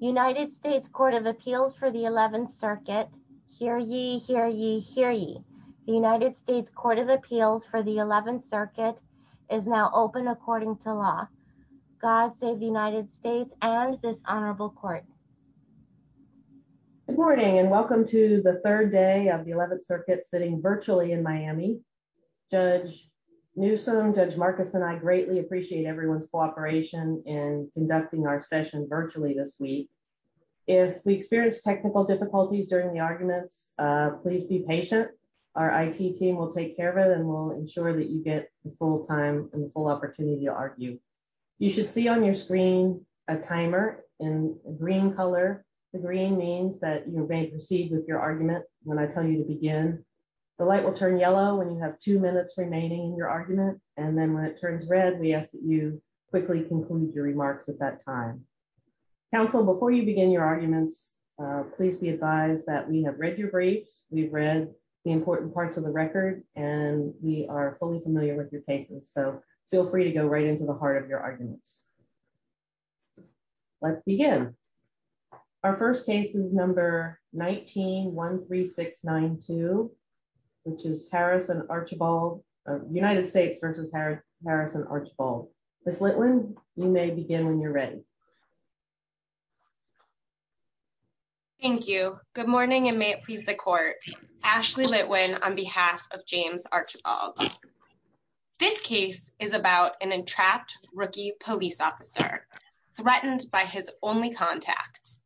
United States Court of Appeals for the 11th Circuit. Hear ye, hear ye, hear ye. The United States Court of Appeals for the 11th Circuit is now open according to law. God save the United States and this honorable court. Good morning and welcome to the third day of the 11th Circuit sitting virtually in Miami. Judge Newsom, Judge Marcus, and I greatly appreciate everyone's If we experience technical difficulties during the arguments, please be patient. Our IT team will take care of it and will ensure that you get the full time and the full opportunity to argue. You should see on your screen a timer in green color. The green means that you may proceed with your argument when I tell you to begin. The light will turn yellow when you have two minutes remaining in your argument and then when it turns red we ask you quickly conclude your remarks at that time. Counsel, before you begin your arguments, please be advised that we have read your briefs, we've read the important parts of the record, and we are fully familiar with your cases. So feel free to go right into the heart of your arguments. Let's begin. Our first case is number 19-13692, which is Harris and Archibald, Ms. Litwin, you may begin when you're ready. Thank you. Good morning and may it please the court. Ashley Litwin on behalf of James Archibald. This case is about an entrapped rookie police officer threatened by his only contact.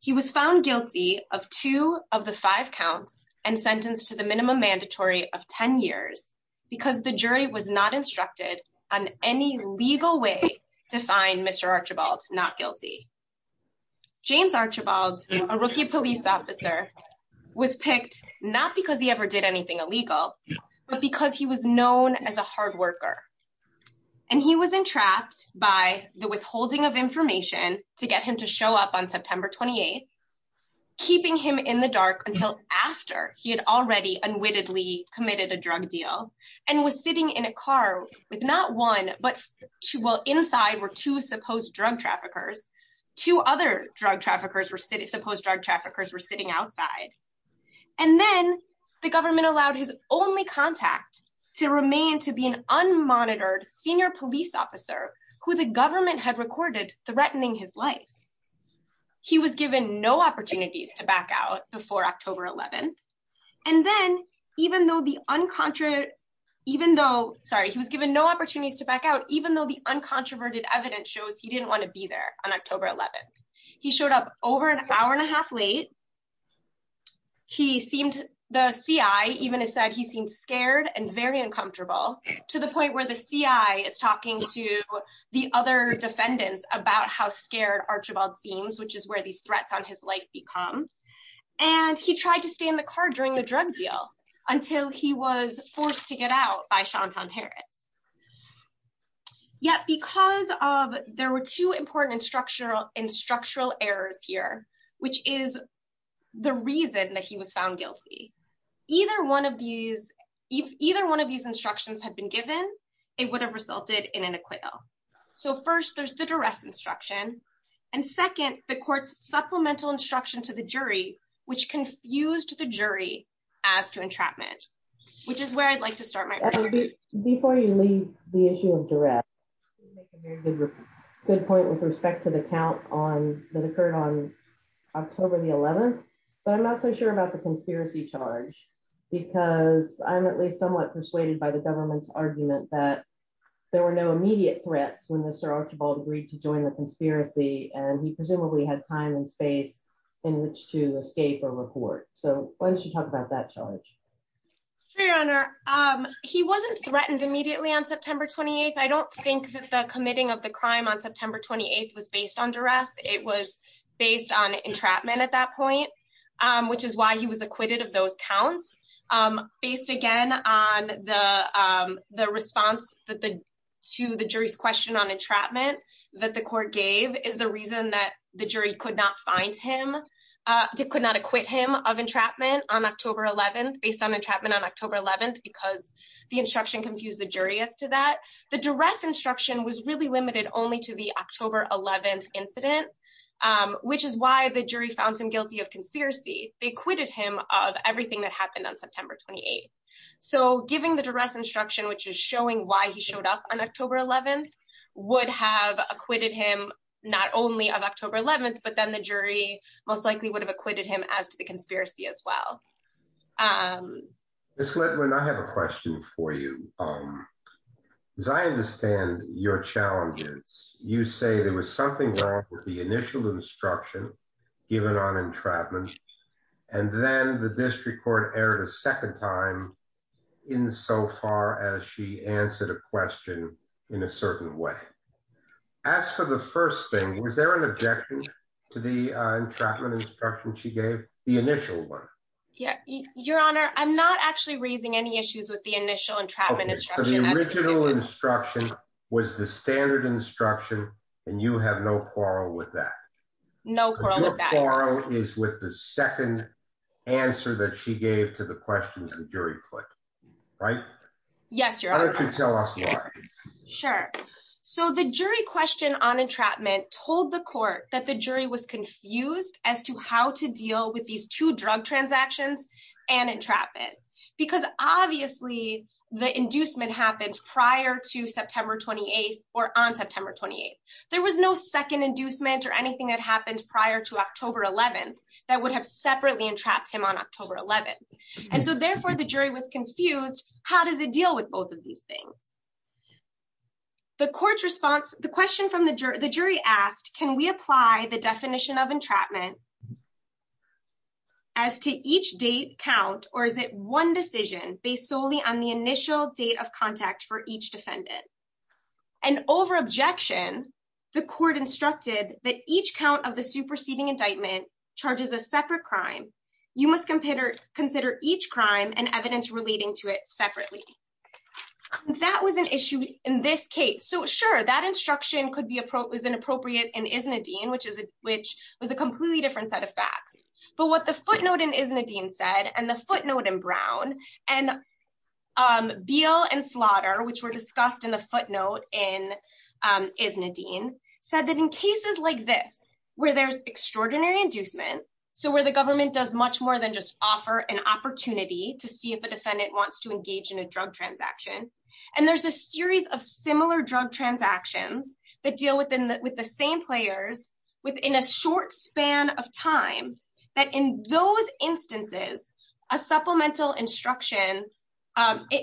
He was found guilty of two of the five counts and sentenced to the minimum mandatory of 10 years because the jury was not instructed on any legal way to find Mr. Archibald not guilty. James Archibald, a rookie police officer, was picked not because he ever did anything illegal but because he was known as a hard worker and he was entrapped by the withholding of information to get him to show up on September 28th, keeping him in the dark until after he had already unwittingly committed a drug deal and was sitting in a car with not one but two, well inside were two supposed drug traffickers, two other drug traffickers were sitting, supposed drug traffickers were sitting outside, and then the government allowed his only contact to remain to be an unmonitored senior police officer who the government had recorded threatening his life. He was given no opportunities to back out before October 11th and then even though the uncontra- even though, sorry, he was given no opportunities to back out even though the uncontroverted evidence shows he didn't want to be there on October 11th. He showed up over an hour and a half late. He seemed, the CI even said he seemed scared and very uncomfortable to the point where the CI is talking to the other defendants about how scared Archibald seems, which is where these threats on his life become, and he tried to stay in the car during the drug deal until he was forced to get out by Sean Tom Harris. Yet because of there were two important instructional errors here, which is the reason that he was found guilty, either one of these instructions had been given, it would have resulted in an acquittal. So first, there's the duress instruction and second, the court's supplemental instruction to the jury, which confused the jury as to entrapment, which is where I'd like to start my- Before you leave the issue of duress, good point with respect to the count on that occurred on October the 11th, but I'm not so the government's argument that there were no immediate threats when Mr. Archibald agreed to join the conspiracy, and he presumably had time and space in which to escape or report. So why don't you talk about that charge? Sure, your honor. He wasn't threatened immediately on September 28th. I don't think that the committing of the crime on September 28th was based on duress. It was based on entrapment at that point, which is why he was acquitted of those counts, based again on the response to the jury's question on entrapment that the court gave is the reason that the jury could not find him, could not acquit him of entrapment on October 11th, based on entrapment on October 11th, because the instruction confused the jury as to that. The duress instruction was really limited only to the October 11th incident, which is why the jury found him guilty of conspiracy. They acquitted him of everything that happened on September 28th. So giving the duress instruction, which is showing why he showed up on October 11th, would have acquitted him not only of October 11th, but then the jury most likely would have acquitted him as to the conspiracy as well. Ms. Ledwin, I have a question for you. As I understand your challenges, you say there was something wrong with the initial instruction given on entrapment, and then the district court erred a second time in so far as she answered a question in a certain way. As for the first thing, was there an objection to the entrapment instruction she gave, the initial one? Yeah, your honor, I'm not actually raising any issues with the initial entrapment instruction. The original instruction was the standard instruction, and you have no quarrel with that. No quarrel with that. Your quarrel is with the second answer that she gave to the question the jury put, right? Yes, your honor. Why don't you tell us why? Sure. So the jury question on entrapment told the court that the jury was confused as to how to deal with these two drug transactions and entrapment, because obviously the inducement happened prior to September 28th or on September 28th. There was no second inducement or anything that happened prior to October 11th that would have separately entrapped him on October 11th, and so therefore the jury was confused. How does it deal with both of these things? The court's response, the question from the jury asked, can we apply the definition of entrapment as to each date count, or is it one decision based solely on the initial date of contact for each defendant? And over objection, the court instructed that each count of the superseding indictment charges a separate crime. You must consider each crime and evidence relating to it is inappropriate in Isnadine, which was a completely different set of facts. But what the footnote in Isnadine said, and the footnote in Brown, and Beal and Slaughter, which were discussed in the footnote in Isnadine, said that in cases like this, where there's extraordinary inducement, so where the government does much more than just offer an opportunity to see if a defendant wants to engage in a drug transaction, and there's a series of similar transactions that deal with the same players within a short span of time, that in those instances, a supplemental instruction,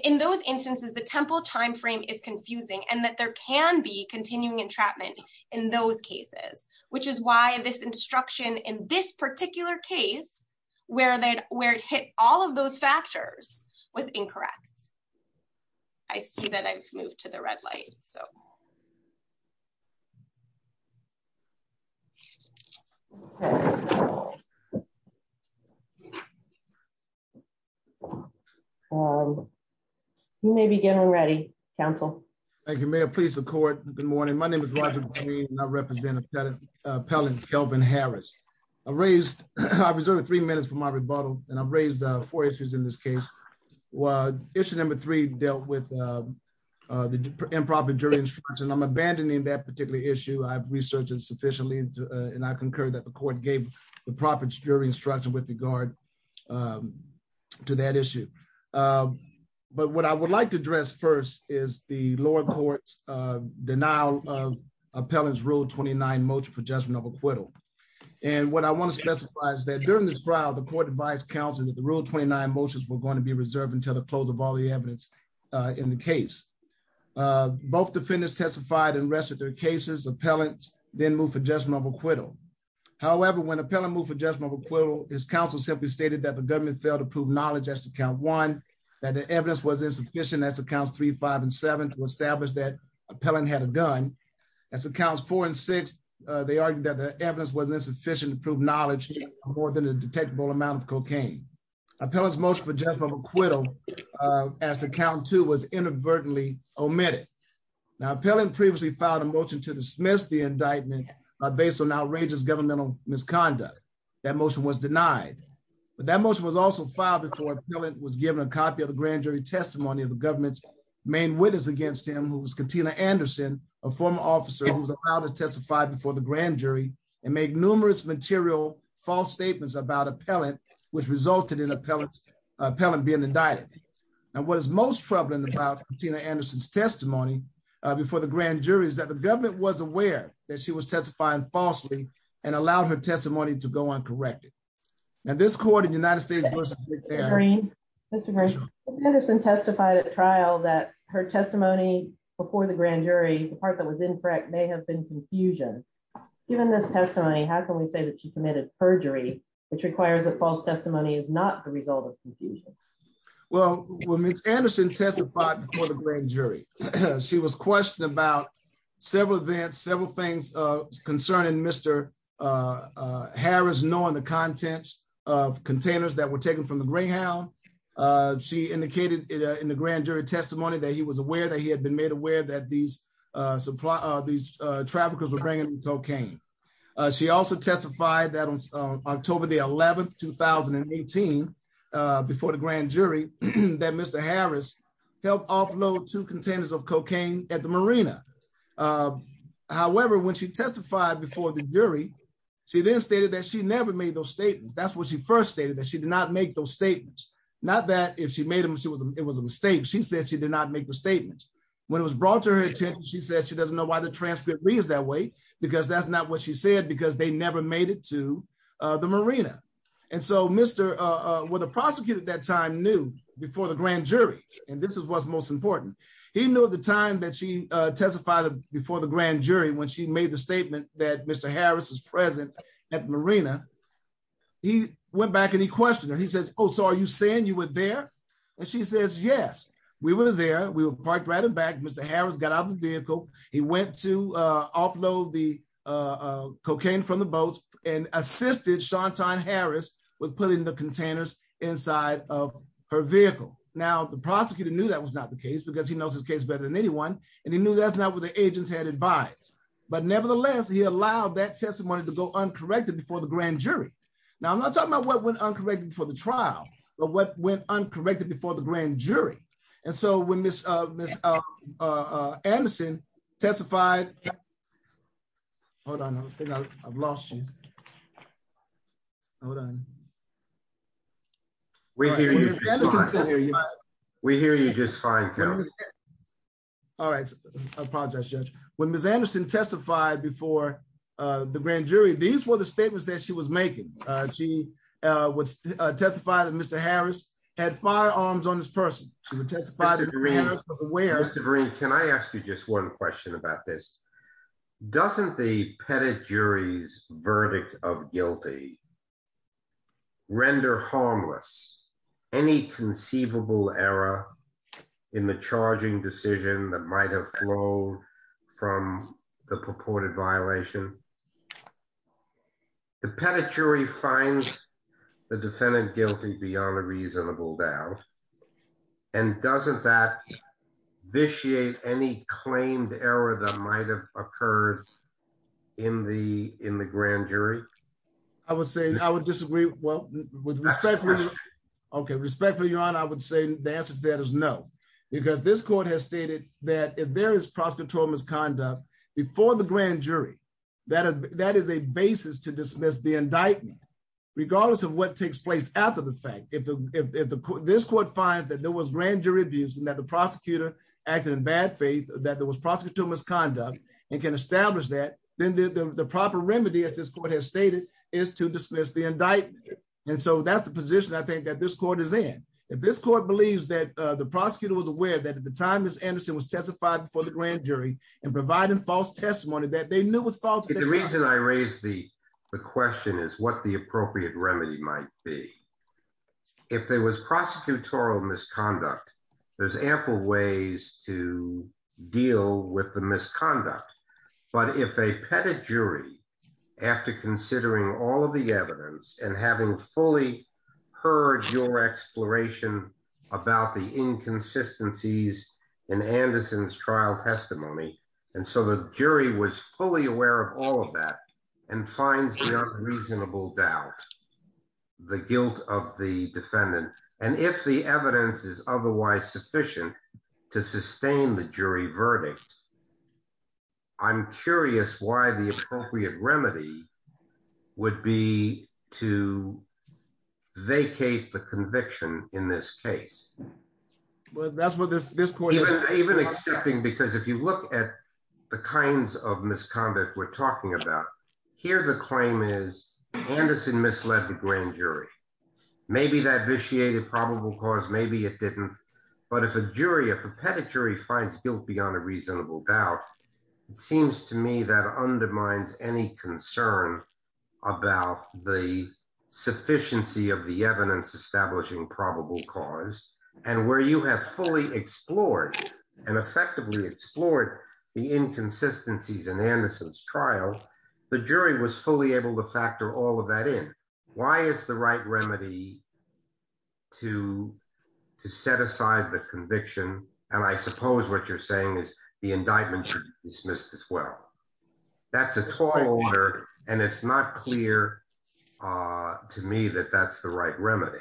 in those instances, the temple timeframe is confusing, and that there can be continuing entrapment in those cases, which is why this instruction in this particular case, where it hit all of those factors, was incorrect. I see that I've moved to red light, so. You may begin already, counsel. Thank you, ma'am. Please support. Good morning. My name is Roger Green, and I represent Appellant Kelvin Harris. I raised, I reserved three minutes for my rebuttal, and I've raised four issues in this case. Issue number three dealt with the improper jury instruction. I'm abandoning that particular issue. I've researched it sufficiently, and I concur that the court gave the proper jury instruction with regard to that issue. But what I would like to address first is the lower court's denial of Appellant's Rule 29 motion for judgment of acquittal. And what I want to specify is that during this trial, the court advised counsel that the Rule 29 motions were going to be reserved until the evidence in the case. Both defendants testified and rested their cases. Appellant then moved for judgment of acquittal. However, when Appellant moved for judgment of acquittal, his counsel simply stated that the government failed to prove knowledge as to Count 1, that the evidence was insufficient as to Counts 3, 5, and 7 to establish that Appellant had a gun. As to Counts 4 and 6, they argued that the evidence was insufficient to prove knowledge more than a detectable amount of cocaine. Appellant's motion for judgment of acquittal as to Count 2 was inadvertently omitted. Now, Appellant previously filed a motion to dismiss the indictment based on outrageous governmental misconduct. That motion was denied. But that motion was also filed before Appellant was given a copy of the grand jury testimony of the government's main witness against him, who was Katina Anderson, a former officer who was allowed to testify before the grand jury and make numerous material false statements about Appellant, which resulted in Appellant being indicted. And what is most troubling about Katina Anderson's testimony before the grand jury is that the government was aware that she was testifying falsely and allowed her testimony to go uncorrected. And this court in the United States... Mr. Green, Mr. Green, Katina Anderson testified at trial that her testimony before the grand jury, the part that was incorrect, may have been confusion. Given this testimony, how can we say that she committed perjury, which requires that false testimony is not the result of confusion? Well, when Ms. Anderson testified before the grand jury, she was questioned about several events, several things concerning Mr. Harris knowing the contents of containers that were taken from the Greyhound. She indicated in the grand jury testimony that he was aware that he had been cocaine. She also testified that on October the 11th, 2018, before the grand jury, that Mr. Harris helped offload two containers of cocaine at the marina. However, when she testified before the jury, she then stated that she never made those statements. That's what she first stated, that she did not make those statements. Not that if she made them, it was a mistake. She said she did not make the statements. When it was brought to her attention, she said she doesn't know why the transcript reads that way, because that's not what she said, because they never made it to the marina. And so Mr., well, the prosecutor at that time knew before the grand jury, and this is what's most important. He knew at the time that she testified before the grand jury, when she made the statement that Mr. Harris is present at the marina, he went back and he questioned her. He says, oh, so are you saying you were there? And she says, yes, we were there. We were parked right in back. Mr. Harris got out of the vehicle. He went to offload the cocaine from the boats and assisted Shantan Harris with putting the containers inside of her vehicle. Now, the prosecutor knew that was not the case because he knows his case better than anyone. And he knew that's not what the agents had advised. But nevertheless, he allowed that testimony to go uncorrected before the grand jury. Now, I'm not talking about what went uncorrected for the trial, but what went uncorrected before the grand jury. And so when Ms. Anderson testified, Judge, when Ms. Anderson testified before the grand jury, these were the statements that she was making. She would testify that Mr. Harris had firearms on this person. She would testify that Harris was aware. Mr. Vereen, can I ask you just one question about this? Doesn't the Pettit jury's verdict of guilty render harmless any conceivable error in the charging decision that might have flowed from the purported violation? The Pettit jury finds the defendant guilty beyond a reasonable doubt. And doesn't that vitiate any claimed error that might have occurred in the grand jury? I would say I would disagree. Well, with respect for your honor, I would say the answer to that is no, because this court has stated that if there is prosecutorial misconduct before the grand jury, that is a basis to dismiss the indictment, regardless of what takes place after the fact. If this court finds that there was grand jury abuse and that the prosecutor acted in bad faith, that there was prosecutorial misconduct and can establish that, then the proper remedy, as this court has stated, is to dismiss the indictment. And so that's the position I think that this court is in. If this court believes that the prosecutor was aware that at the time Ms. Anderson was testified before the grand jury and providing false testimony that they knew was The reason I raised the question is what the appropriate remedy might be. If there was prosecutorial misconduct, there's ample ways to deal with the misconduct. But if a Pettit jury, after considering all of the evidence and having fully heard your exploration about the of all of that, and finds the unreasonable doubt, the guilt of the defendant, and if the evidence is otherwise sufficient to sustain the jury verdict, I'm curious why the appropriate remedy would be to vacate the conviction in this case. Well, that's what this point is. Even accepting, because if you look at the kinds of misconduct we're talking about, here the claim is Anderson misled the grand jury. Maybe that vitiated probable cause, maybe it didn't. But if a jury, if a Pettit jury finds guilt beyond a reasonable doubt, it seems to me that undermines any concern about the sufficiency of the evidence establishing probable cause and where you have fully explored and effectively explored the inconsistencies in Anderson's trial, the jury was fully able to factor all of that in. Why is the right remedy to set aside the conviction? And I suppose what you're saying is the indictment should be dismissed as well. That's a tall order and it's not clear to me that that's the right remedy.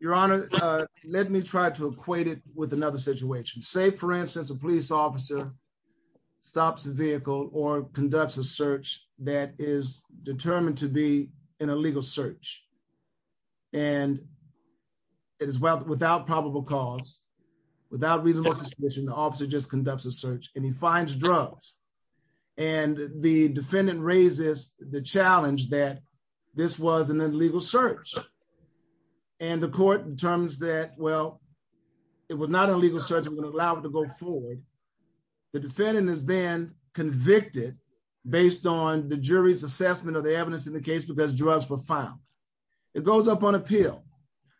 Your Honor, let me try to equate it with another situation. Say, for instance, a police officer stops the vehicle or conducts a search that is determined to be an illegal search. And it is without probable cause, without reasonable suspicion, the officer just conducts a search and he finds drugs. And the defendant raises the challenge that this was an illegal search. And the court determines that, well, it was not an illegal search and would allow it to go forward. The defendant is then convicted based on the jury's assessment of the evidence in the case because drugs were found. It goes up on appeal.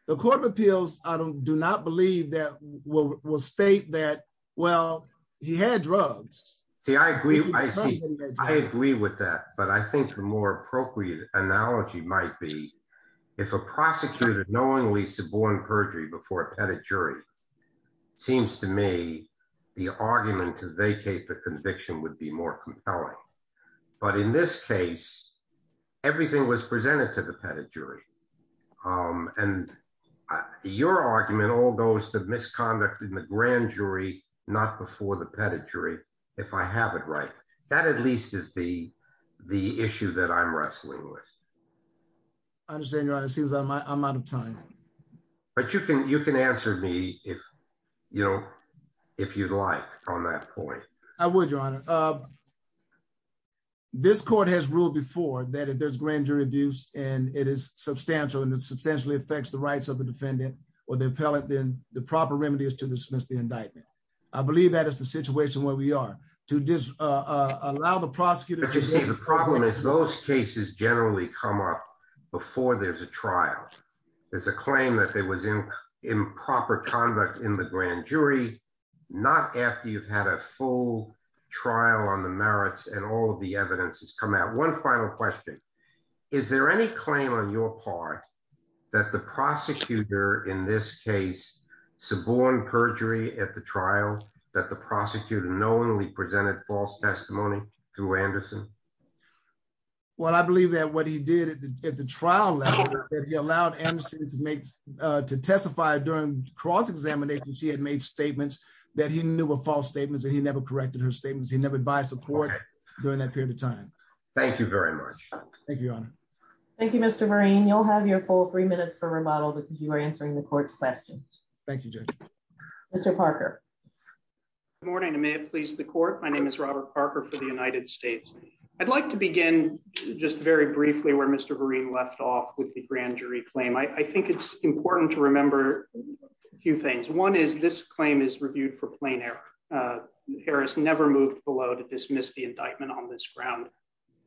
The Court of Appeals, I do not believe that will state that, well, he had drugs. See, I agree. I see. I agree with that. But I think the more appropriate analogy might be if a prosecutor knowingly suborned perjury before a pettit jury, seems to me the argument to vacate the conviction would be more compelling. But in this case, everything was presented to the pettit jury. And your argument all goes to misconduct in the grand jury, not before the pettit jury, if I have it right. That at least is the question I'm wrestling with. I understand, Your Honor. It seems I'm out of time. But you can answer me if, you know, if you'd like on that point. I would, Your Honor. This court has ruled before that there's grand jury abuse and it is substantial and it substantially affects the rights of the defendant or the appellant. Then the proper remedy is to dismiss the indictment. I believe that is the case that's generally come up before there's a trial. There's a claim that there was improper conduct in the grand jury, not after you've had a full trial on the merits and all of the evidence has come out. One final question. Is there any claim on your part that the prosecutor in this case suborned perjury at the trial, that the prosecutor knowingly presented false testimony to Anderson? Well, I believe that what he did at the trial level, that he allowed Anderson to make to testify during cross examination. She had made statements that he knew were false statements and he never corrected her statements. He never advised the court during that period of time. Thank you very much. Thank you, Your Honor. Thank you, Mr. Marine. You'll have your full three minutes for remodel because you are answering the court's questions. Thank you, Judge. Mr. Parker. Good morning. I'm a lawyer. I'm a lawyer in the United States. I'd like to begin just very briefly where Mr. Marine left off with the grand jury claim. I think it's important to remember a few things. One is this claim is reviewed for plain error. Harris never moved below to dismiss the indictment on this ground.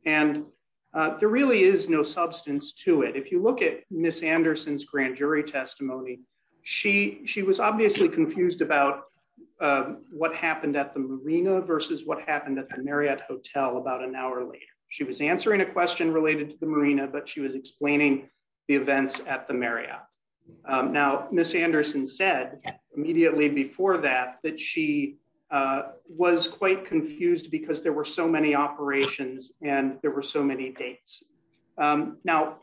And there really is no substance to it. If you look at Miss Anderson's grand jury testimony, she was obviously confused about what happened at the marina versus what happened at the Marriott Hotel about an hour later. She was answering a question related to the marina, but she was explaining the events at the Marriott. Now, Miss Anderson said immediately before that, that she was quite confused because there were so many operations and there were so many dates. Now,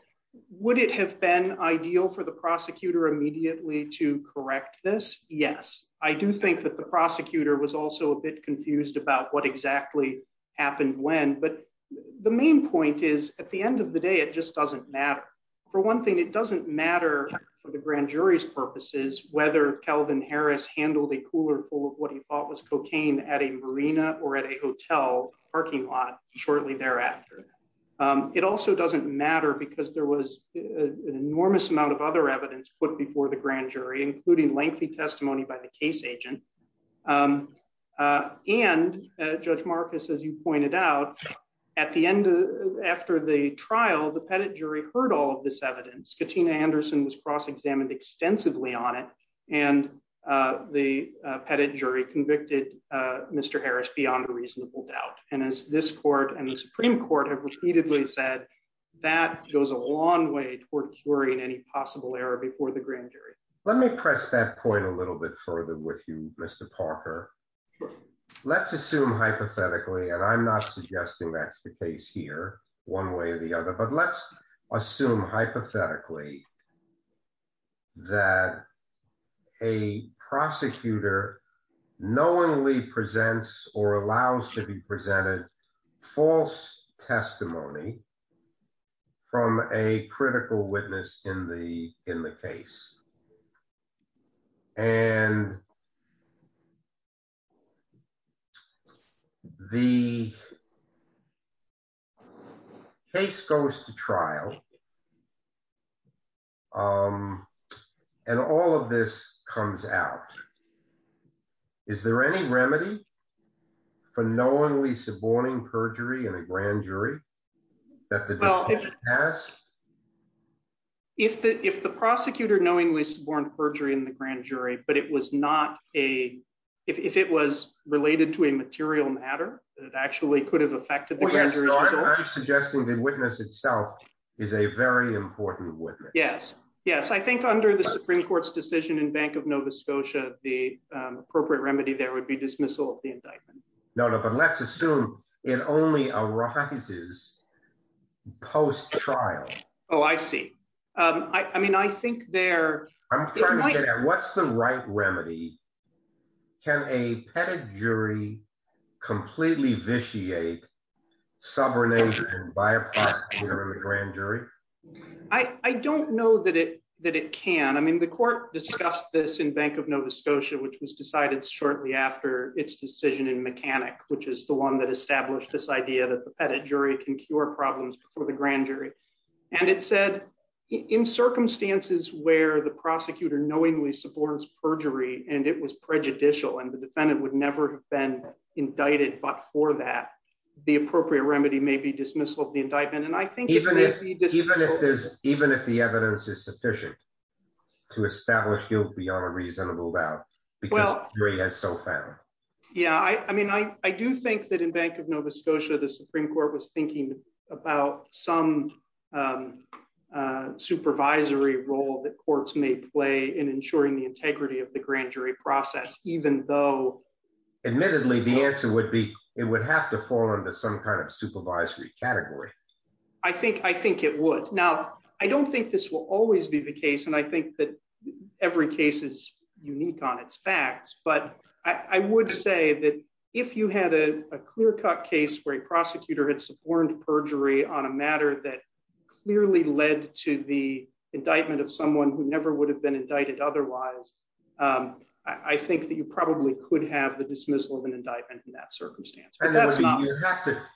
would it have been ideal for the prosecutor immediately to correct this? Yes. I do think that the prosecutor was also a bit confused about what exactly happened when, but the main point is at the end of the day, it just doesn't matter. For one thing, it doesn't matter for the grand jury's purposes, whether Calvin Harris handled a cooler full of what he thought was cocaine at a marina or at a hotel parking lot shortly thereafter. It also doesn't matter because there was an enormous amount of other evidence put before the grand jury, including lengthy testimony by the case agent. And Judge Marcus, as you pointed out at the end of, after the trial, the pettit jury heard all of this evidence. Katina Anderson was cross-examined extensively on it. And the pettit jury convicted Mr. Harris beyond a reasonable doubt. And as this court and the long way toward curing any possible error before the grand jury. Let me press that point a little bit further with you, Mr. Parker. Let's assume hypothetically, and I'm not suggesting that's the case here one way or the other, but let's assume hypothetically that a prosecutor knowingly presents or allows to be presented false testimony from a critical witness in the case. And the case goes to trial. And all of this comes out. Is there any remedy for knowingly suborning perjury in a grand jury that the judge has? If the prosecutor knowingly suborned perjury in the grand jury, but it was not a, if it was related to a material matter that actually could have affected the grand jury. I'm suggesting the witness itself is a very important witness. Yes. I think under the Supreme court's decision in bank of Nova Scotia, the appropriate remedy there would be dismissal of the indictment. No, no, but let's assume it only arises post trial. Oh, I see. I mean, I think there. What's the right remedy? Can a pettit jury completely vitiate subornation by a prosecutor in the grand jury? I don't know that it, that it can. I mean, the court discussed this in bank of Nova Scotia, which was decided shortly after its decision in mechanic, which is the one that established this idea that the pettit jury can cure problems for the grand jury. And it said in circumstances where the prosecutor knowingly supports perjury, and it was prejudicial and the defendant would never have been indicted. But for that, the appropriate remedy may be dismissal of the indictment. And I think even if, even if there's, even if the evidence is sufficient to establish guilt beyond a reasonable doubt, because jury has so found. Yeah. I mean, I do think that in bank of Nova Scotia, the Supreme court was thinking about some supervisory role that courts may play in ensuring the integrity of the grand jury process, even though. Admittedly, the answer would be, it would have to fall into some kind of supervisory category. I think, I think it would. Now, I don't think this will always be the case. And I think that every case is unique on its facts, but I would say that if you had a clear cut case where a prosecutor had suborned perjury on a matter that clearly led to the I think that you probably could have the dismissal of an indictment in that circumstance.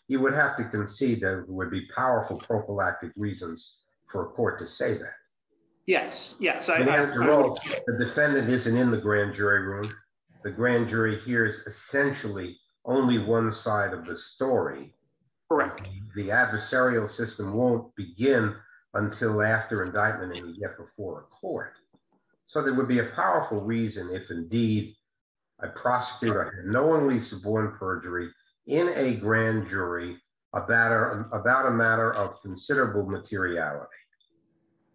You would have to concede that it would be powerful prophylactic reasons for a court to say that. Yes. Yes. The defendant isn't in the grand jury room. The grand jury here is essentially only one side of the story. Correct. The adversarial system won't begin until after reason. If indeed I prosecute, I have no only suborn perjury in a grand jury, a batter about a matter of considerable materiality.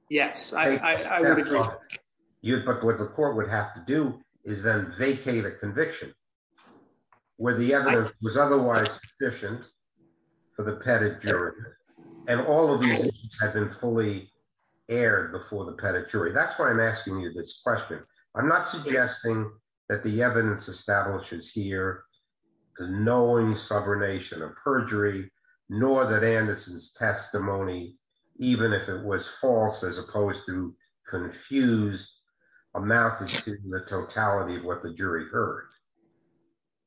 Yes, I would. But what the court would have to do is then vacate a conviction where the evidence was otherwise sufficient for the pedigree. And all of these have been fully aired before the pedigree. That's why I'm asking you this question. I'm not suggesting that the evidence establishes here the knowing subornation of perjury, nor that Anderson's testimony, even if it was false, as opposed to confused, amounted to the totality of what the jury heard.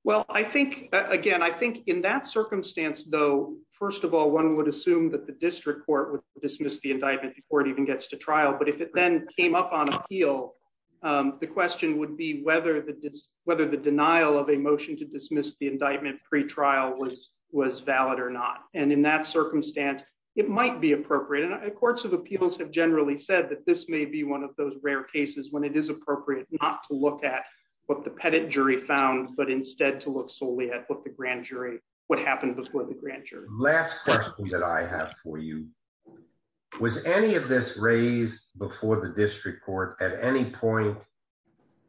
Well, I think again, I think in that circumstance, though, first of all, one would assume that the district court would dismiss the indictment before it even gets to trial. But if it then came up on appeal, the question would be whether the whether the denial of a motion to dismiss the indictment pretrial was was valid or not. And in that circumstance, it might be appropriate. And courts of appeals have generally said that this may be one of those rare cases when it is appropriate not to look at what the pedigree found, but instead to look solely at what the grand jury what happened before the grand jury. Last question that I have for you. Was any of this raised before the district court at any point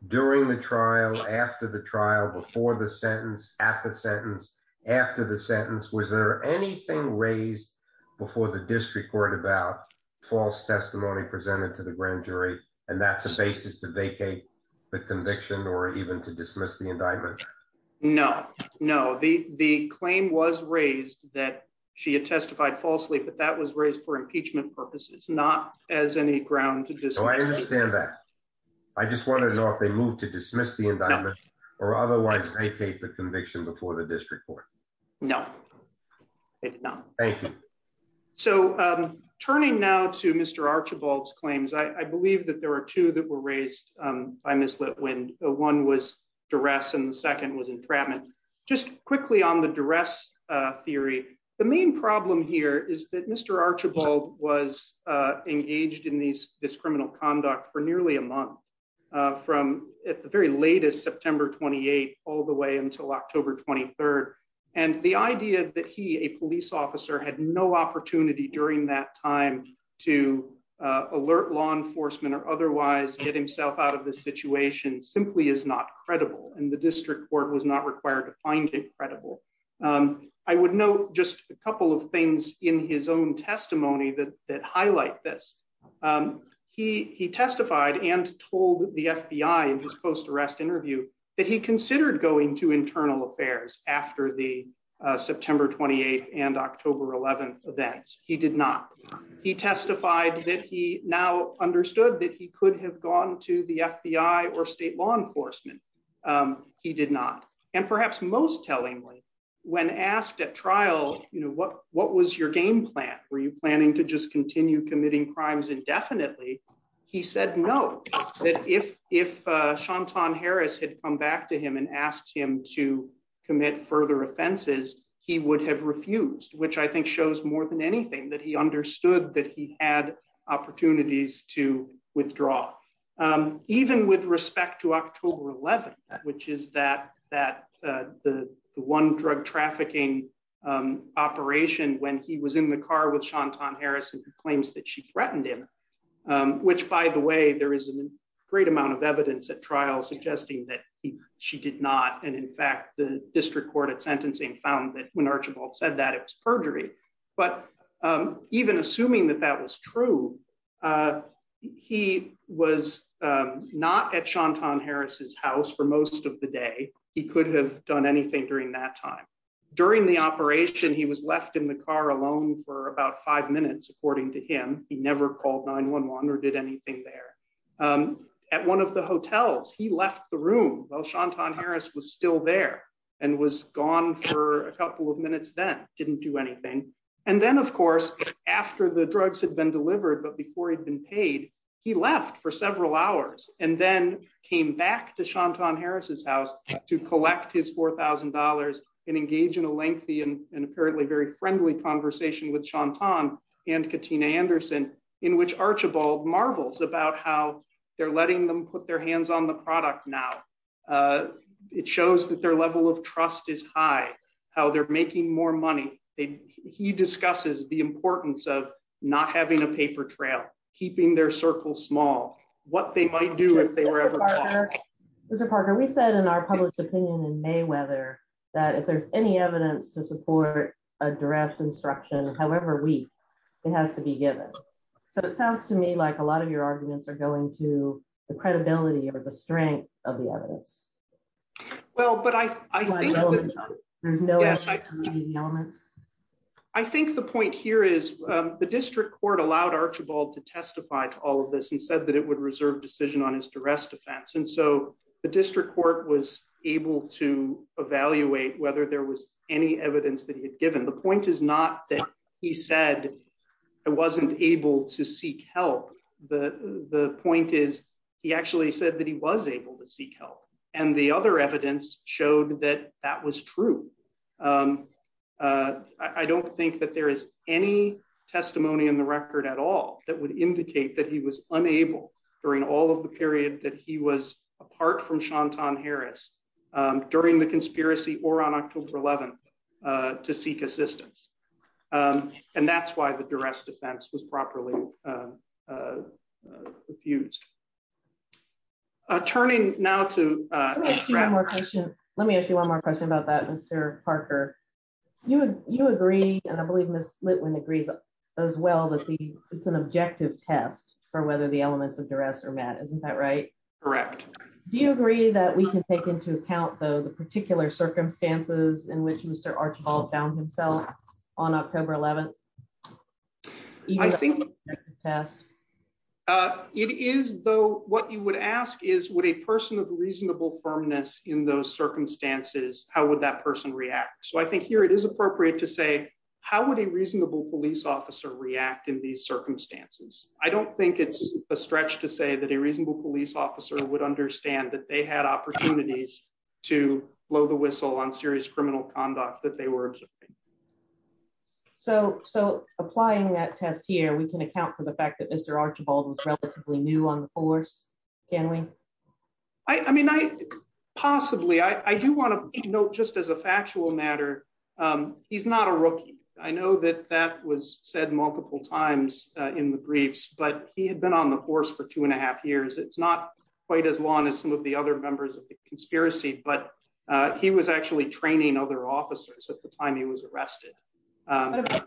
during the trial after the trial before the sentence at the sentence after the sentence? Was there anything raised before the district court about false testimony presented to the grand jury? And that's a basis to vacate the conviction or even to dismiss the indictment? No, no. The the claim was raised that she had testified falsely, but that was raised for impeachment purposes, not as any ground to do so. I understand that. I just want to know if they moved to dismiss the indictment or otherwise vacate the conviction before the district court. No, they did not. Thank you. So turning now to Mr. Archibald's claims, I believe that there are two that were raised by Ms. Litwin. One was duress and the second was entrapment. Just quickly on the duress theory, the main problem here is that Mr. Archibald was engaged in these this criminal conduct for nearly a month from the very latest, September 28, all the way until October 23. And the idea that he, a police officer, had no opportunity during that time to alert law enforcement or otherwise get himself out of the situation simply is not credible. And the district court was not required to find it credible. I would note just a couple of things in his own testimony that highlight this. He testified and told the FBI in his post-arrest interview that he considered going to internal affairs after the September 28 and October 11 events. He did not. He testified that he now understood that he could have gone to the FBI or state law enforcement. He did not. And perhaps most tellingly, when asked at trial, you know, what was your game plan? Were you planning to just continue committing crimes indefinitely? He said no. That if Shantan Harris had come back to him and asked him to commit further offenses, he would have refused, which I think shows more than anything that he understood that he had opportunities to withdraw. Even with respect to October 11, which is that that the one drug trafficking operation when he was in the car with Shantan Harris and claims that she threatened him, which by the way, there is a great amount of evidence at trial suggesting that she did not. And in fact, the district court at sentencing found that when Archibald said that it was perjury. But even assuming that that was true, he was not at Shantan Harris's house for most of the day. He could have done anything during that time. During the operation, he was left in the car alone for about five minutes, according to him. He never called 9-1-1 or did anything there. At one of the hotels, he left the room while Shantan Harris was still there and was gone for a couple of minutes, then didn't do anything. And then, of course, after the drugs had been delivered, but before he'd been paid, he left for several hours and then came back to Shantan Harris's house to collect his four thousand dollars and engage in a lengthy and apparently very friendly conversation with Shantan and Katina Anderson, in which Archibald marvels about how they're letting them put their hands on the product now. It shows that their level of trust is high, how they're making more money. He discusses the importance of not having a paper trail, keeping their circle small, what they might do if they were ever caught. Mr. Parker, we said in our published opinion in Mayweather that if there's any evidence to support duress instruction, however weak, it has to be given. So it sounds to me like a lot of your arguments are going to the credibility or the strength of the evidence. Well, but I, I know. I think the point here is the district court allowed Archibald to testify to all of this and said that it would reserve decision on his duress defense. And so the district court was able to the point is not that he said I wasn't able to seek help. The point is he actually said that he was able to seek help. And the other evidence showed that that was true. I don't think that there is any testimony in the record at all that would indicate that he was unable during all of the period that he was apart from Shantan Harris during the conspiracy or on October 11th to seek assistance. And that's why the duress defense was properly fused. Turning now to let me ask you one more question about that. Mr. Parker, you, you agree, and I believe Ms. Litwin agrees as well, that it's an objective test for whether the elements of duress are met. Isn't that right? Correct. Do you agree that we can take into account though, the particular circumstances in which Mr. Archibald found himself on October 11th? It is though, what you would ask is what a person of reasonable firmness in those circumstances, how would that person react? So I think here it is appropriate to say, how would a reasonable police officer react in these circumstances? I don't think it's a stretch to say that a reasonable police officer would understand that they had opportunities to blow the whistle on serious criminal conduct that they were observing. So, so applying that test here, we can account for the fact that Mr. Archibald was relatively new on the force, can we? I mean, I possibly, I do want to note just as a factual matter, he's not a rookie. I know that that was said multiple times in the briefs, but he had been on the force for two and a half years. It's not quite as long as some of the other members of the conspiracy, but he was actually training other officers at the time he was arrested.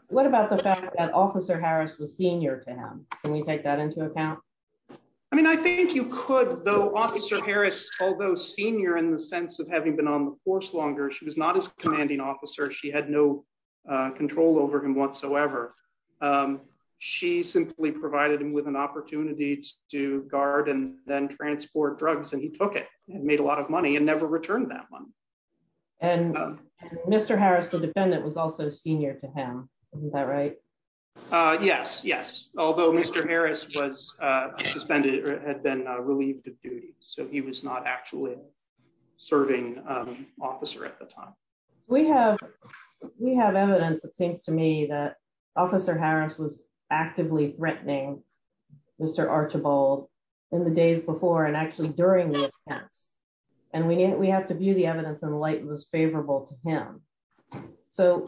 What about the fact that officer Harris was senior to him? Can we take that into account? I mean, I think you could though officer Harris, although senior in the sense of having been on the force longer, she was not as commanding officer. She had no control over him whatsoever. She simply provided him with an opportunity to guard and then transport drugs. And he took it and made a lot of money and never returned that one. And Mr. Harris, the defendant was also senior to him. Isn't that right? Yes. Yes. Although Mr. Harris was suspended or had been relieved of duty. So he was not actually serving officer at the time. We have, we have evidence that seems to me that officer Harris was actively threatening Mr. Archibald in the days before and actually during the events. And we need, we have to view the evidence in the light that was favorable to him. So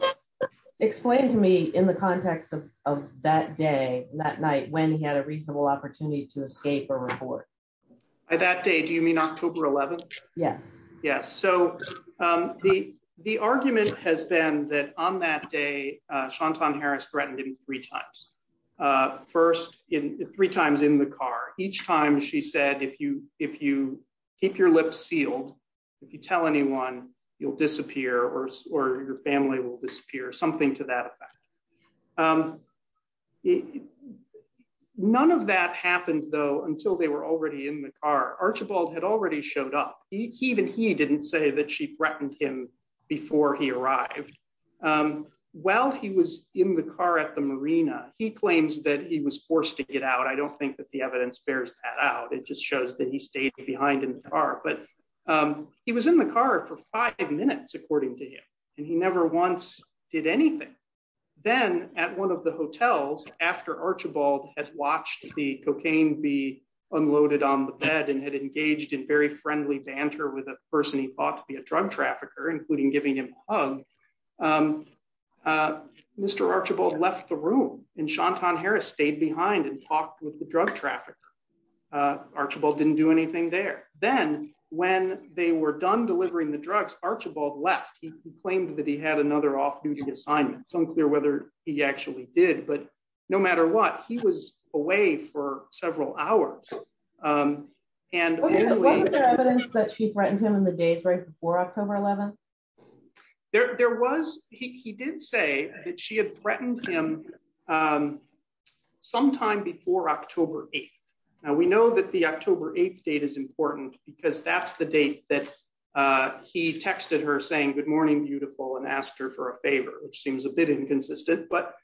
explain to me in the context of that day, that night, when he had a reasonable opportunity to escape or report. By that day, do you mean October 11th? Yes. Yes. So the, the argument has been that on that day, Shantan Harris threatened him three times. First in three times in the car, each time she said, if you, if you keep your lips sealed, if you tell anyone you'll disappear or, or your family will disappear, something to that effect. None of that happened though, until they were already in the car. Archibald had already showed up. He, even he didn't say that she threatened him before he arrived. While he was in the car at the Marina, he claims that he was forced to get out. I don't think that the evidence bears that out. It just shows that he stayed behind in the car, but he was in the car for five minutes, according to him. And he never once did anything. Then at one of the hotels after Archibald had watched the cocaine be unloaded on the bed and had engaged in very friendly banter with a person he thought to be a drug trafficker, including giving him a hug. Mr. Archibald left the room and Shantan Harris stayed behind and talked with the drug trafficker. Archibald didn't do anything there. Then when they were done delivering the drugs, Archibald left. He complained that he had another off duty assignment. It's unclear whether he actually did, but no matter what, he was away for several hours. Was there evidence that she threatened him in the days right before October 11th? There was. He did say that she had threatened him sometime before October 8th. Now we know that the October 8th date is important because that's the date that he texted her saying good morning beautiful and asked her for a favor, which seems a bit inconsistent. But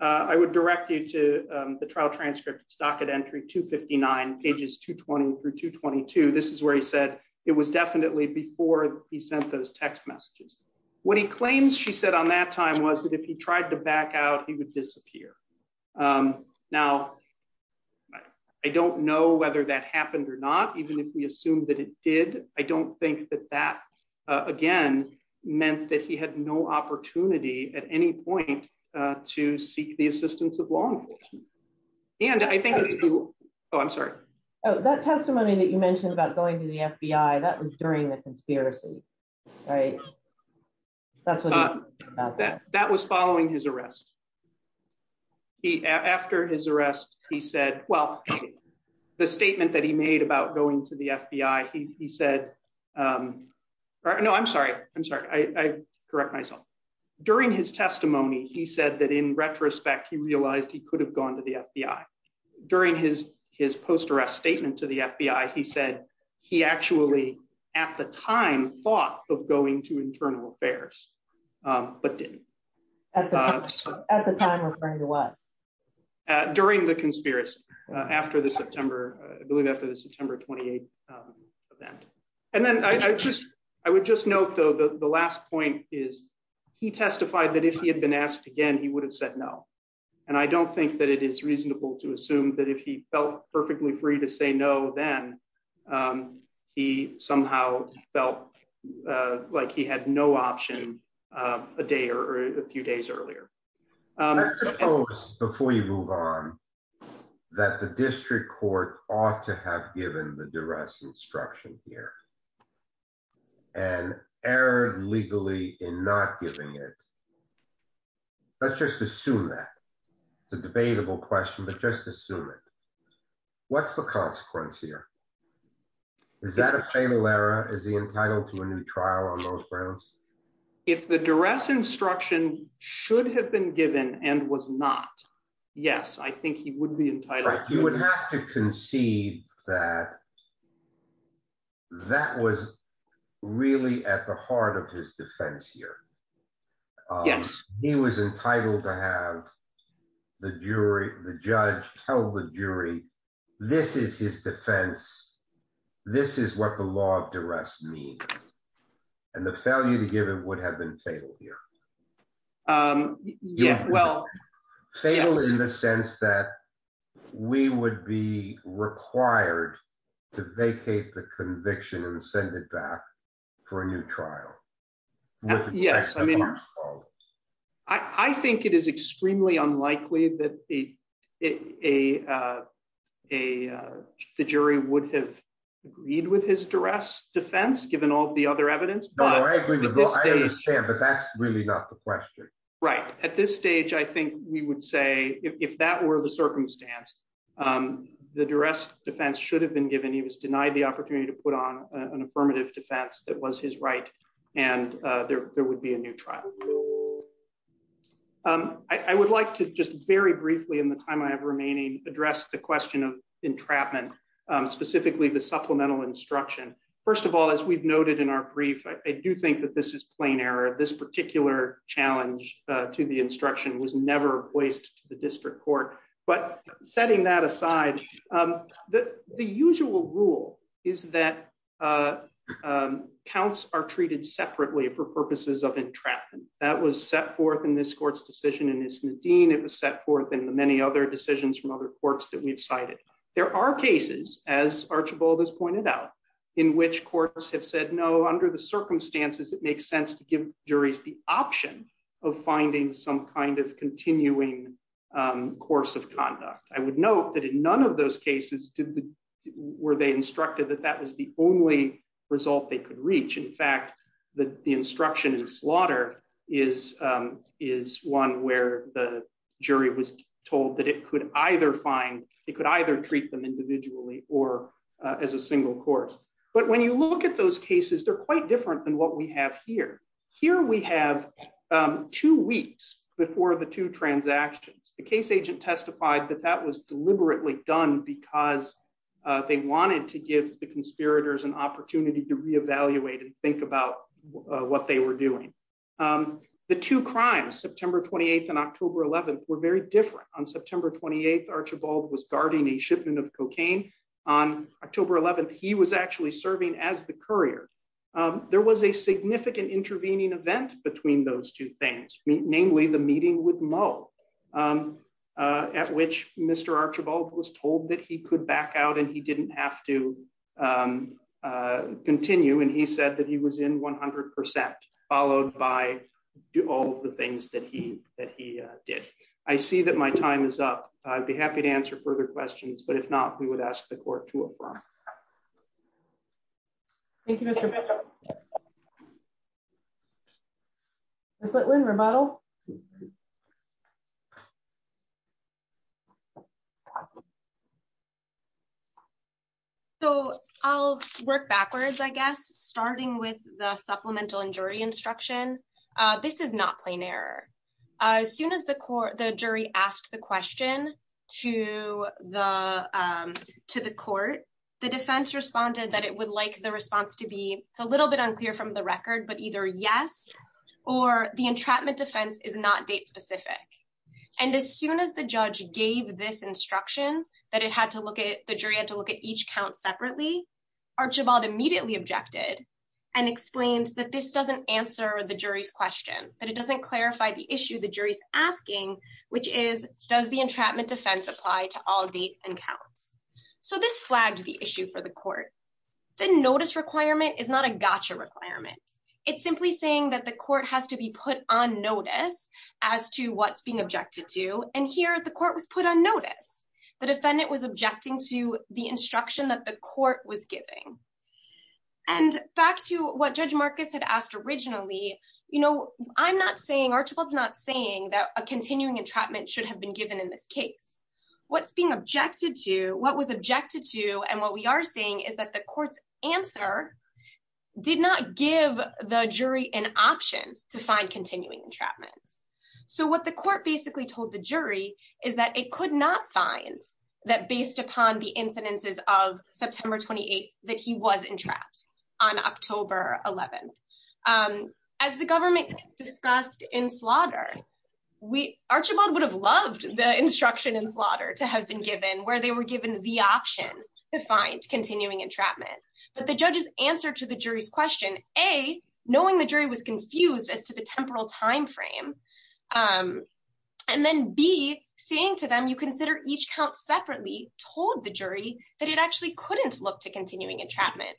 I would direct you to the trial transcripts docket entry 259 pages 220 through 222. This is where he said it was definitely before he sent those text messages. What he claims she said on that time was that if he tried to back out he would disappear. Now I don't know whether that happened or not, even if we assume that it did. I don't think that that again meant that he had no opportunity at any point to seek the and I think oh I'm sorry oh that testimony that you mentioned about going to the FBI that was during the conspiracy right that's what that was following his arrest he after his arrest he said well the statement that he made about going to the FBI he said um no I'm sorry I'm sorry I correct myself during his testimony he said that in retrospect he realized he could have gone to the FBI during his his post-arrest statement to the FBI he said he actually at the time thought of going to internal affairs but didn't at the time referring to what during the conspiracy after the September I believe after the September 28th event and then I just I would just note though the the last point is he testified that if he had been asked again he would have said no and I don't think that it is reasonable to assume that if he felt perfectly free to say no then he somehow felt like he had no option a day or a few days earlier. Let's suppose before you move on that the district court ought to have given the duress instruction here and erred legally in not giving it let's just assume that it's a debatable question but just assume it what's the consequence here is that a fatal error is he entitled to a new trial on those grounds? If the duress instruction should have been given and was not yes I think he would be really at the heart of his defense here. Yes he was entitled to have the jury the judge tell the jury this is his defense this is what the law of duress means and the failure to give it would have been fatal here. Yeah well fatal in the sense that we would be required to vacate the conviction and send it back for a new trial. Yes I mean I think it is extremely unlikely that the jury would have agreed with his duress defense given all the other evidence. But that's really not the question. Right at this stage I think we would say if that were the circumstance the duress defense should have been given he was denied the opportunity to put an affirmative defense that was his right and there would be a new trial. I would like to just very briefly in the time I have remaining address the question of entrapment specifically the supplemental instruction. First of all as we've noted in our brief I do think that this is plain error this particular challenge to the instruction was never voiced to the district court but setting that aside the usual rule is that counts are treated separately for purposes of entrapment that was set forth in this court's decision in this Nadine it was set forth in the many other decisions from other courts that we've cited. There are cases as Archibald has pointed out in which courts have said no under the circumstances it makes sense to give juries the option of finding some kind of continuing course of conduct. I would note that in none of those cases were they instructed that that was the only result they could reach. In fact that the instruction in slaughter is one where the jury was told that it could either find it could either treat them individually or as a single course. But when you look at those cases they're quite different than what we have here. Here we have two weeks before the two transactions the case agent testified that that was deliberately done because they wanted to give the conspirators an opportunity to reevaluate and think about what they were doing. The two crimes September 28th and October 11th were very different. On September 28th Archibald was guarding a shipment of cocaine on October 11th he was actually serving as the courier. There was a significant intervening event between those two things namely the meeting with Moe at which Mr. Archibald was told that he could back out and he didn't have to continue and he said that he was in 100 percent followed by do all the things that he that he did. I see that my time is up I'd be happy to ask the court to affirm. Thank you Mr. Bishop. Ms. Litwin, rebuttal. So I'll work backwards I guess starting with the supplemental and jury instruction. This is not plain error. As soon as the court the jury asked the question to the to the court the defense responded that it would like the response to be it's a little bit unclear from the record but either yes or the entrapment defense is not date specific and as soon as the judge gave this instruction that it had to look at the jury had to look at each count separately Archibald immediately objected and explained that this doesn't answer the jury's question that it doesn't clarify the issue the jury's asking which is does the entrapment defense apply to all date and counts so this flagged the issue for the court the notice requirement is not a gotcha requirement it's simply saying that the court has to be put on notice as to what's being objected to and here the court was put on notice the defendant was objecting to the instruction that the court was giving and back to what Judge Marcus had asked originally you know I'm not saying Archibald's not saying that a continuing entrapment should have been given in this case what's being objected to what was objected to and what we are saying is that the court's answer did not give the jury an option to find continuing entrapment so what the court basically told the jury is that it could not find that based upon the incidences of September 28th that he was entrapped on October 11th as the government discussed in slaughter we Archibald would have loved the instruction in slaughter to have been given where they were given the option to find continuing entrapment but the judge's answer to the jury's question a knowing the jury was confused as to the temporal time frame and then be saying to them you consider each count separately told the jury that it actually couldn't look to continuing entrapment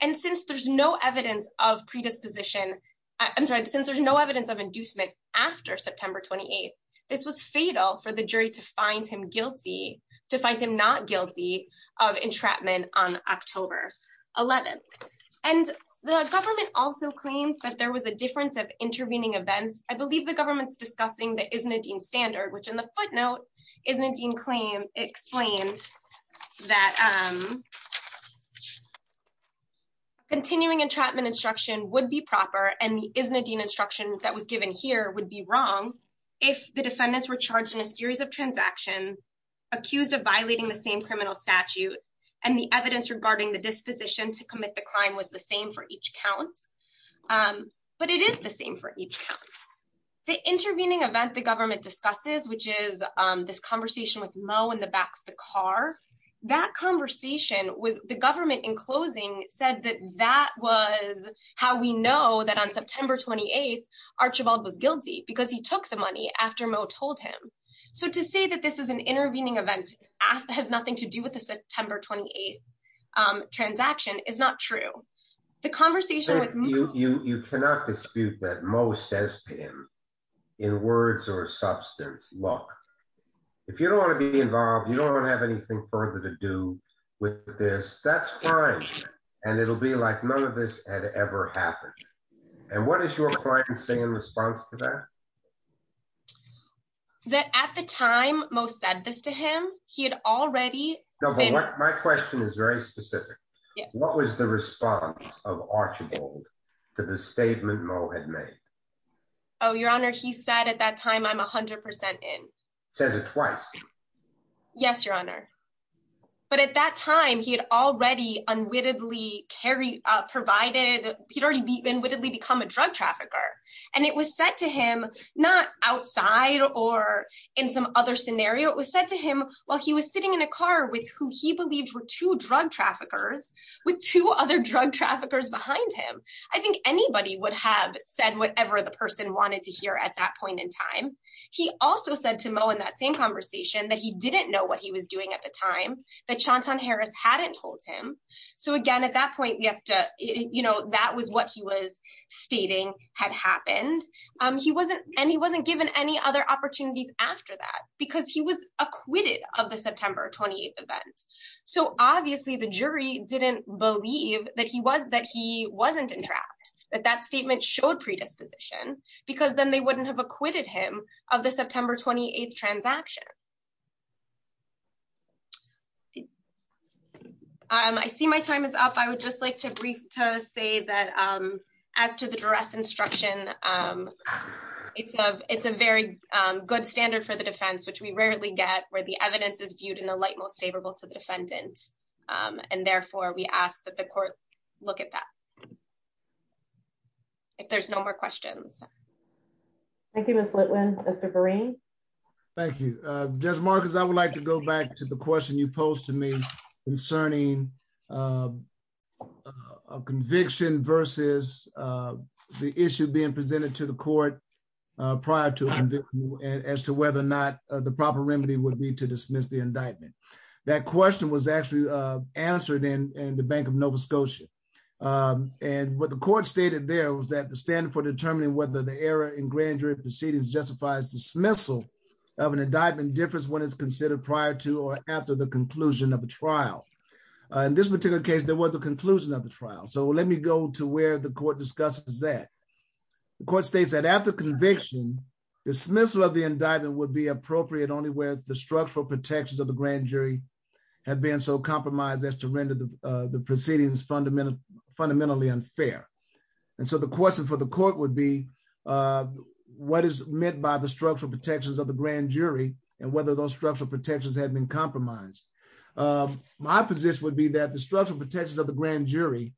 and since there's no evidence of predisposition I'm sorry since there's no evidence of inducement after September 28th this was fatal for the jury to find him guilty to find him not guilty of entrapment on October 11th and the government also claims that there was a difference of intervening events I believe the government's discussing the isn't a dean standard which in the footnote isn't a dean claim explained that um continuing entrapment instruction would be proper and isn't a dean instruction that was given here would be wrong if the defendants were charged in a series of transactions accused of violating the same criminal statute and the evidence regarding the disposition to same for each counts but it is the same for each counts the intervening event the government discusses which is this conversation with mo in the back of the car that conversation was the government in closing said that that was how we know that on September 28th Archibald was guilty because he took the money after mo told him so to say that this is an intervening event has nothing to do with the September 28th um transaction is not true the conversation with you you cannot dispute that mo says to him in words or substance look if you don't want to be involved you don't want to have anything further to do with this that's fine and it'll be like none of this had ever happened and what does your client say in response to that that at the time mo said this to him he had already no but my question is very specific what was the response of Archibald to the statement mo had made oh your honor he said at that time i'm a hundred percent in says it twice yes your honor but at that time he had already unwittingly carried uh provided he'd already been wittedly become a drug trafficker and it was said to him not outside or in some other scenario it was said to him while he was sitting in a car with who he believed were two drug traffickers with two other drug traffickers behind him i think anybody would have said whatever the person wanted to hear at that point in time he also said to mo in that same conversation that he didn't know what he was doing at the time that Chanton Harris hadn't told him so again at that point we have to you know that was what he was stating had happened um he wasn't and he wasn't given any other opportunities after that because he was acquitted of the September 28th event so obviously the jury didn't believe that he was that he wasn't entrapped that that statement showed predisposition because then they wouldn't have acquitted him of the September 28th transaction um i see my time is up i would just like to brief to say that um as to the duress instruction um it's a it's a very um good standard for the defense which we rarely get where the evidence is viewed in the light most favorable to the defendant um and therefore we ask that the court look at that if there's no more questions thank you miss litwin mr berean thank you judge marcus i would like to go back to the question you posed to me concerning a conviction versus uh the issue being presented to the court uh prior to as to whether or not the proper remedy would be to dismiss the indictment that question was actually uh answered in in the bank of nova scotia um and what the court stated there was that the standard for determining whether the error in grand jury proceedings justifies dismissal of an indictment differs when it's considered prior to or after the conclusion of a trial in this particular case there was a conclusion of the trial so let me go to where the court discusses that the court states that after conviction dismissal of the indictment would be appropriate only where the structural protections of the grand jury have been so compromised as to render the uh the proceedings fundamental fundamentally unfair and so the question for the court would be uh what is meant by the structural protections of the grand jury and whether those structural protections have been compromised my position would be that the structural protections of the grand jury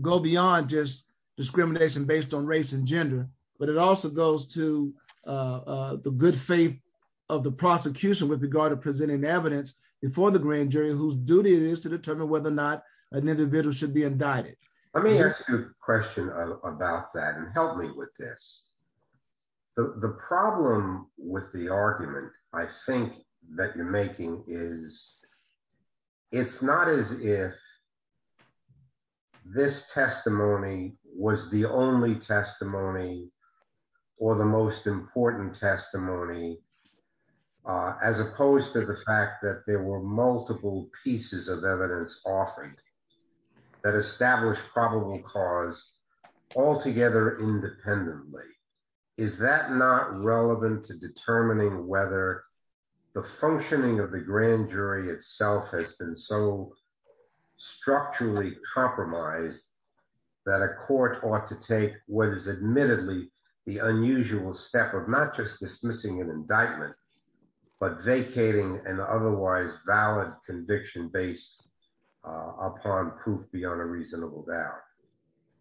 go beyond just discrimination based on race and gender but it also goes to uh the good faith of the prosecution with regard to presenting evidence before the grand jury whose duty it is to determine whether or not an individual should be indicted let me question about that and help me with this the the problem with the argument i think that you're making is it's not as if this testimony was the only testimony or the most important testimony uh as opposed to the fact that there were multiple pieces of cause altogether independently is that not relevant to determining whether the functioning of the grand jury itself has been so structurally compromised that a court ought to take what is admittedly the unusual step of not just dismissing an indictment but vacating an otherwise valid conviction based upon proof beyond a reasonable doubt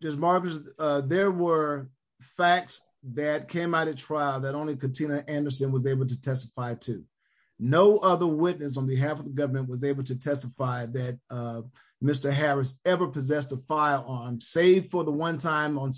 just marvelous uh there were facts that came out at trial that only katina anderson was able to testify to no other witness on behalf of the government was able to testify that uh mr harris ever possessed a firearm save for the one time on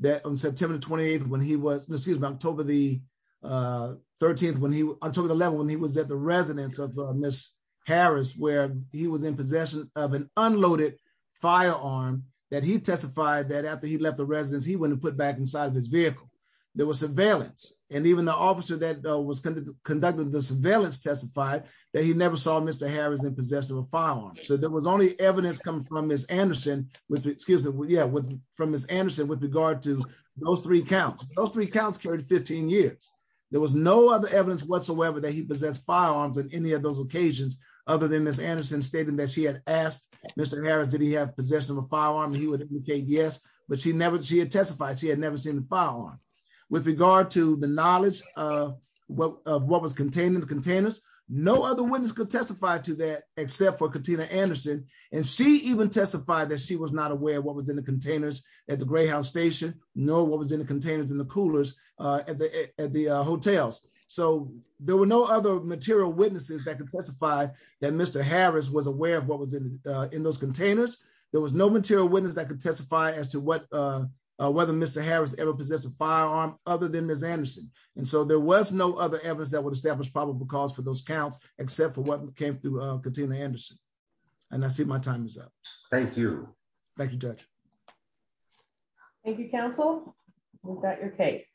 that on september 28th when he was excuse me october the uh 13th when he took the level when he was at the residence of miss harris where he was of an unloaded firearm that he testified that after he left the residence he wouldn't put back inside of his vehicle there was surveillance and even the officer that was conducted the surveillance testified that he never saw mr harris in possession of a firearm so there was only evidence coming from miss anderson with excuse me yeah with from miss anderson with regard to those three counts those three counts carried 15 years there was no other evidence whatsoever that he possessed firearms on any of those occasions other than miss anderson stating that she had asked mr harris did he have possession of a firearm he would indicate yes but she never she had testified she had never seen the firearm with regard to the knowledge of what of what was contained in the containers no other witness could testify to that except for katina anderson and she even testified that she was not aware what was in the containers at the greyhound station no what was in the coolers at the at the hotels so there were no other material witnesses that could testify that mr harris was aware of what was in in those containers there was no material witness that could testify as to what uh whether mr harris ever possessed a firearm other than miss anderson and so there was no other evidence that would establish probable cause for those counts except for what came through katina anderson and i see my time is up thank you thank you judge thank you counsel we've got your case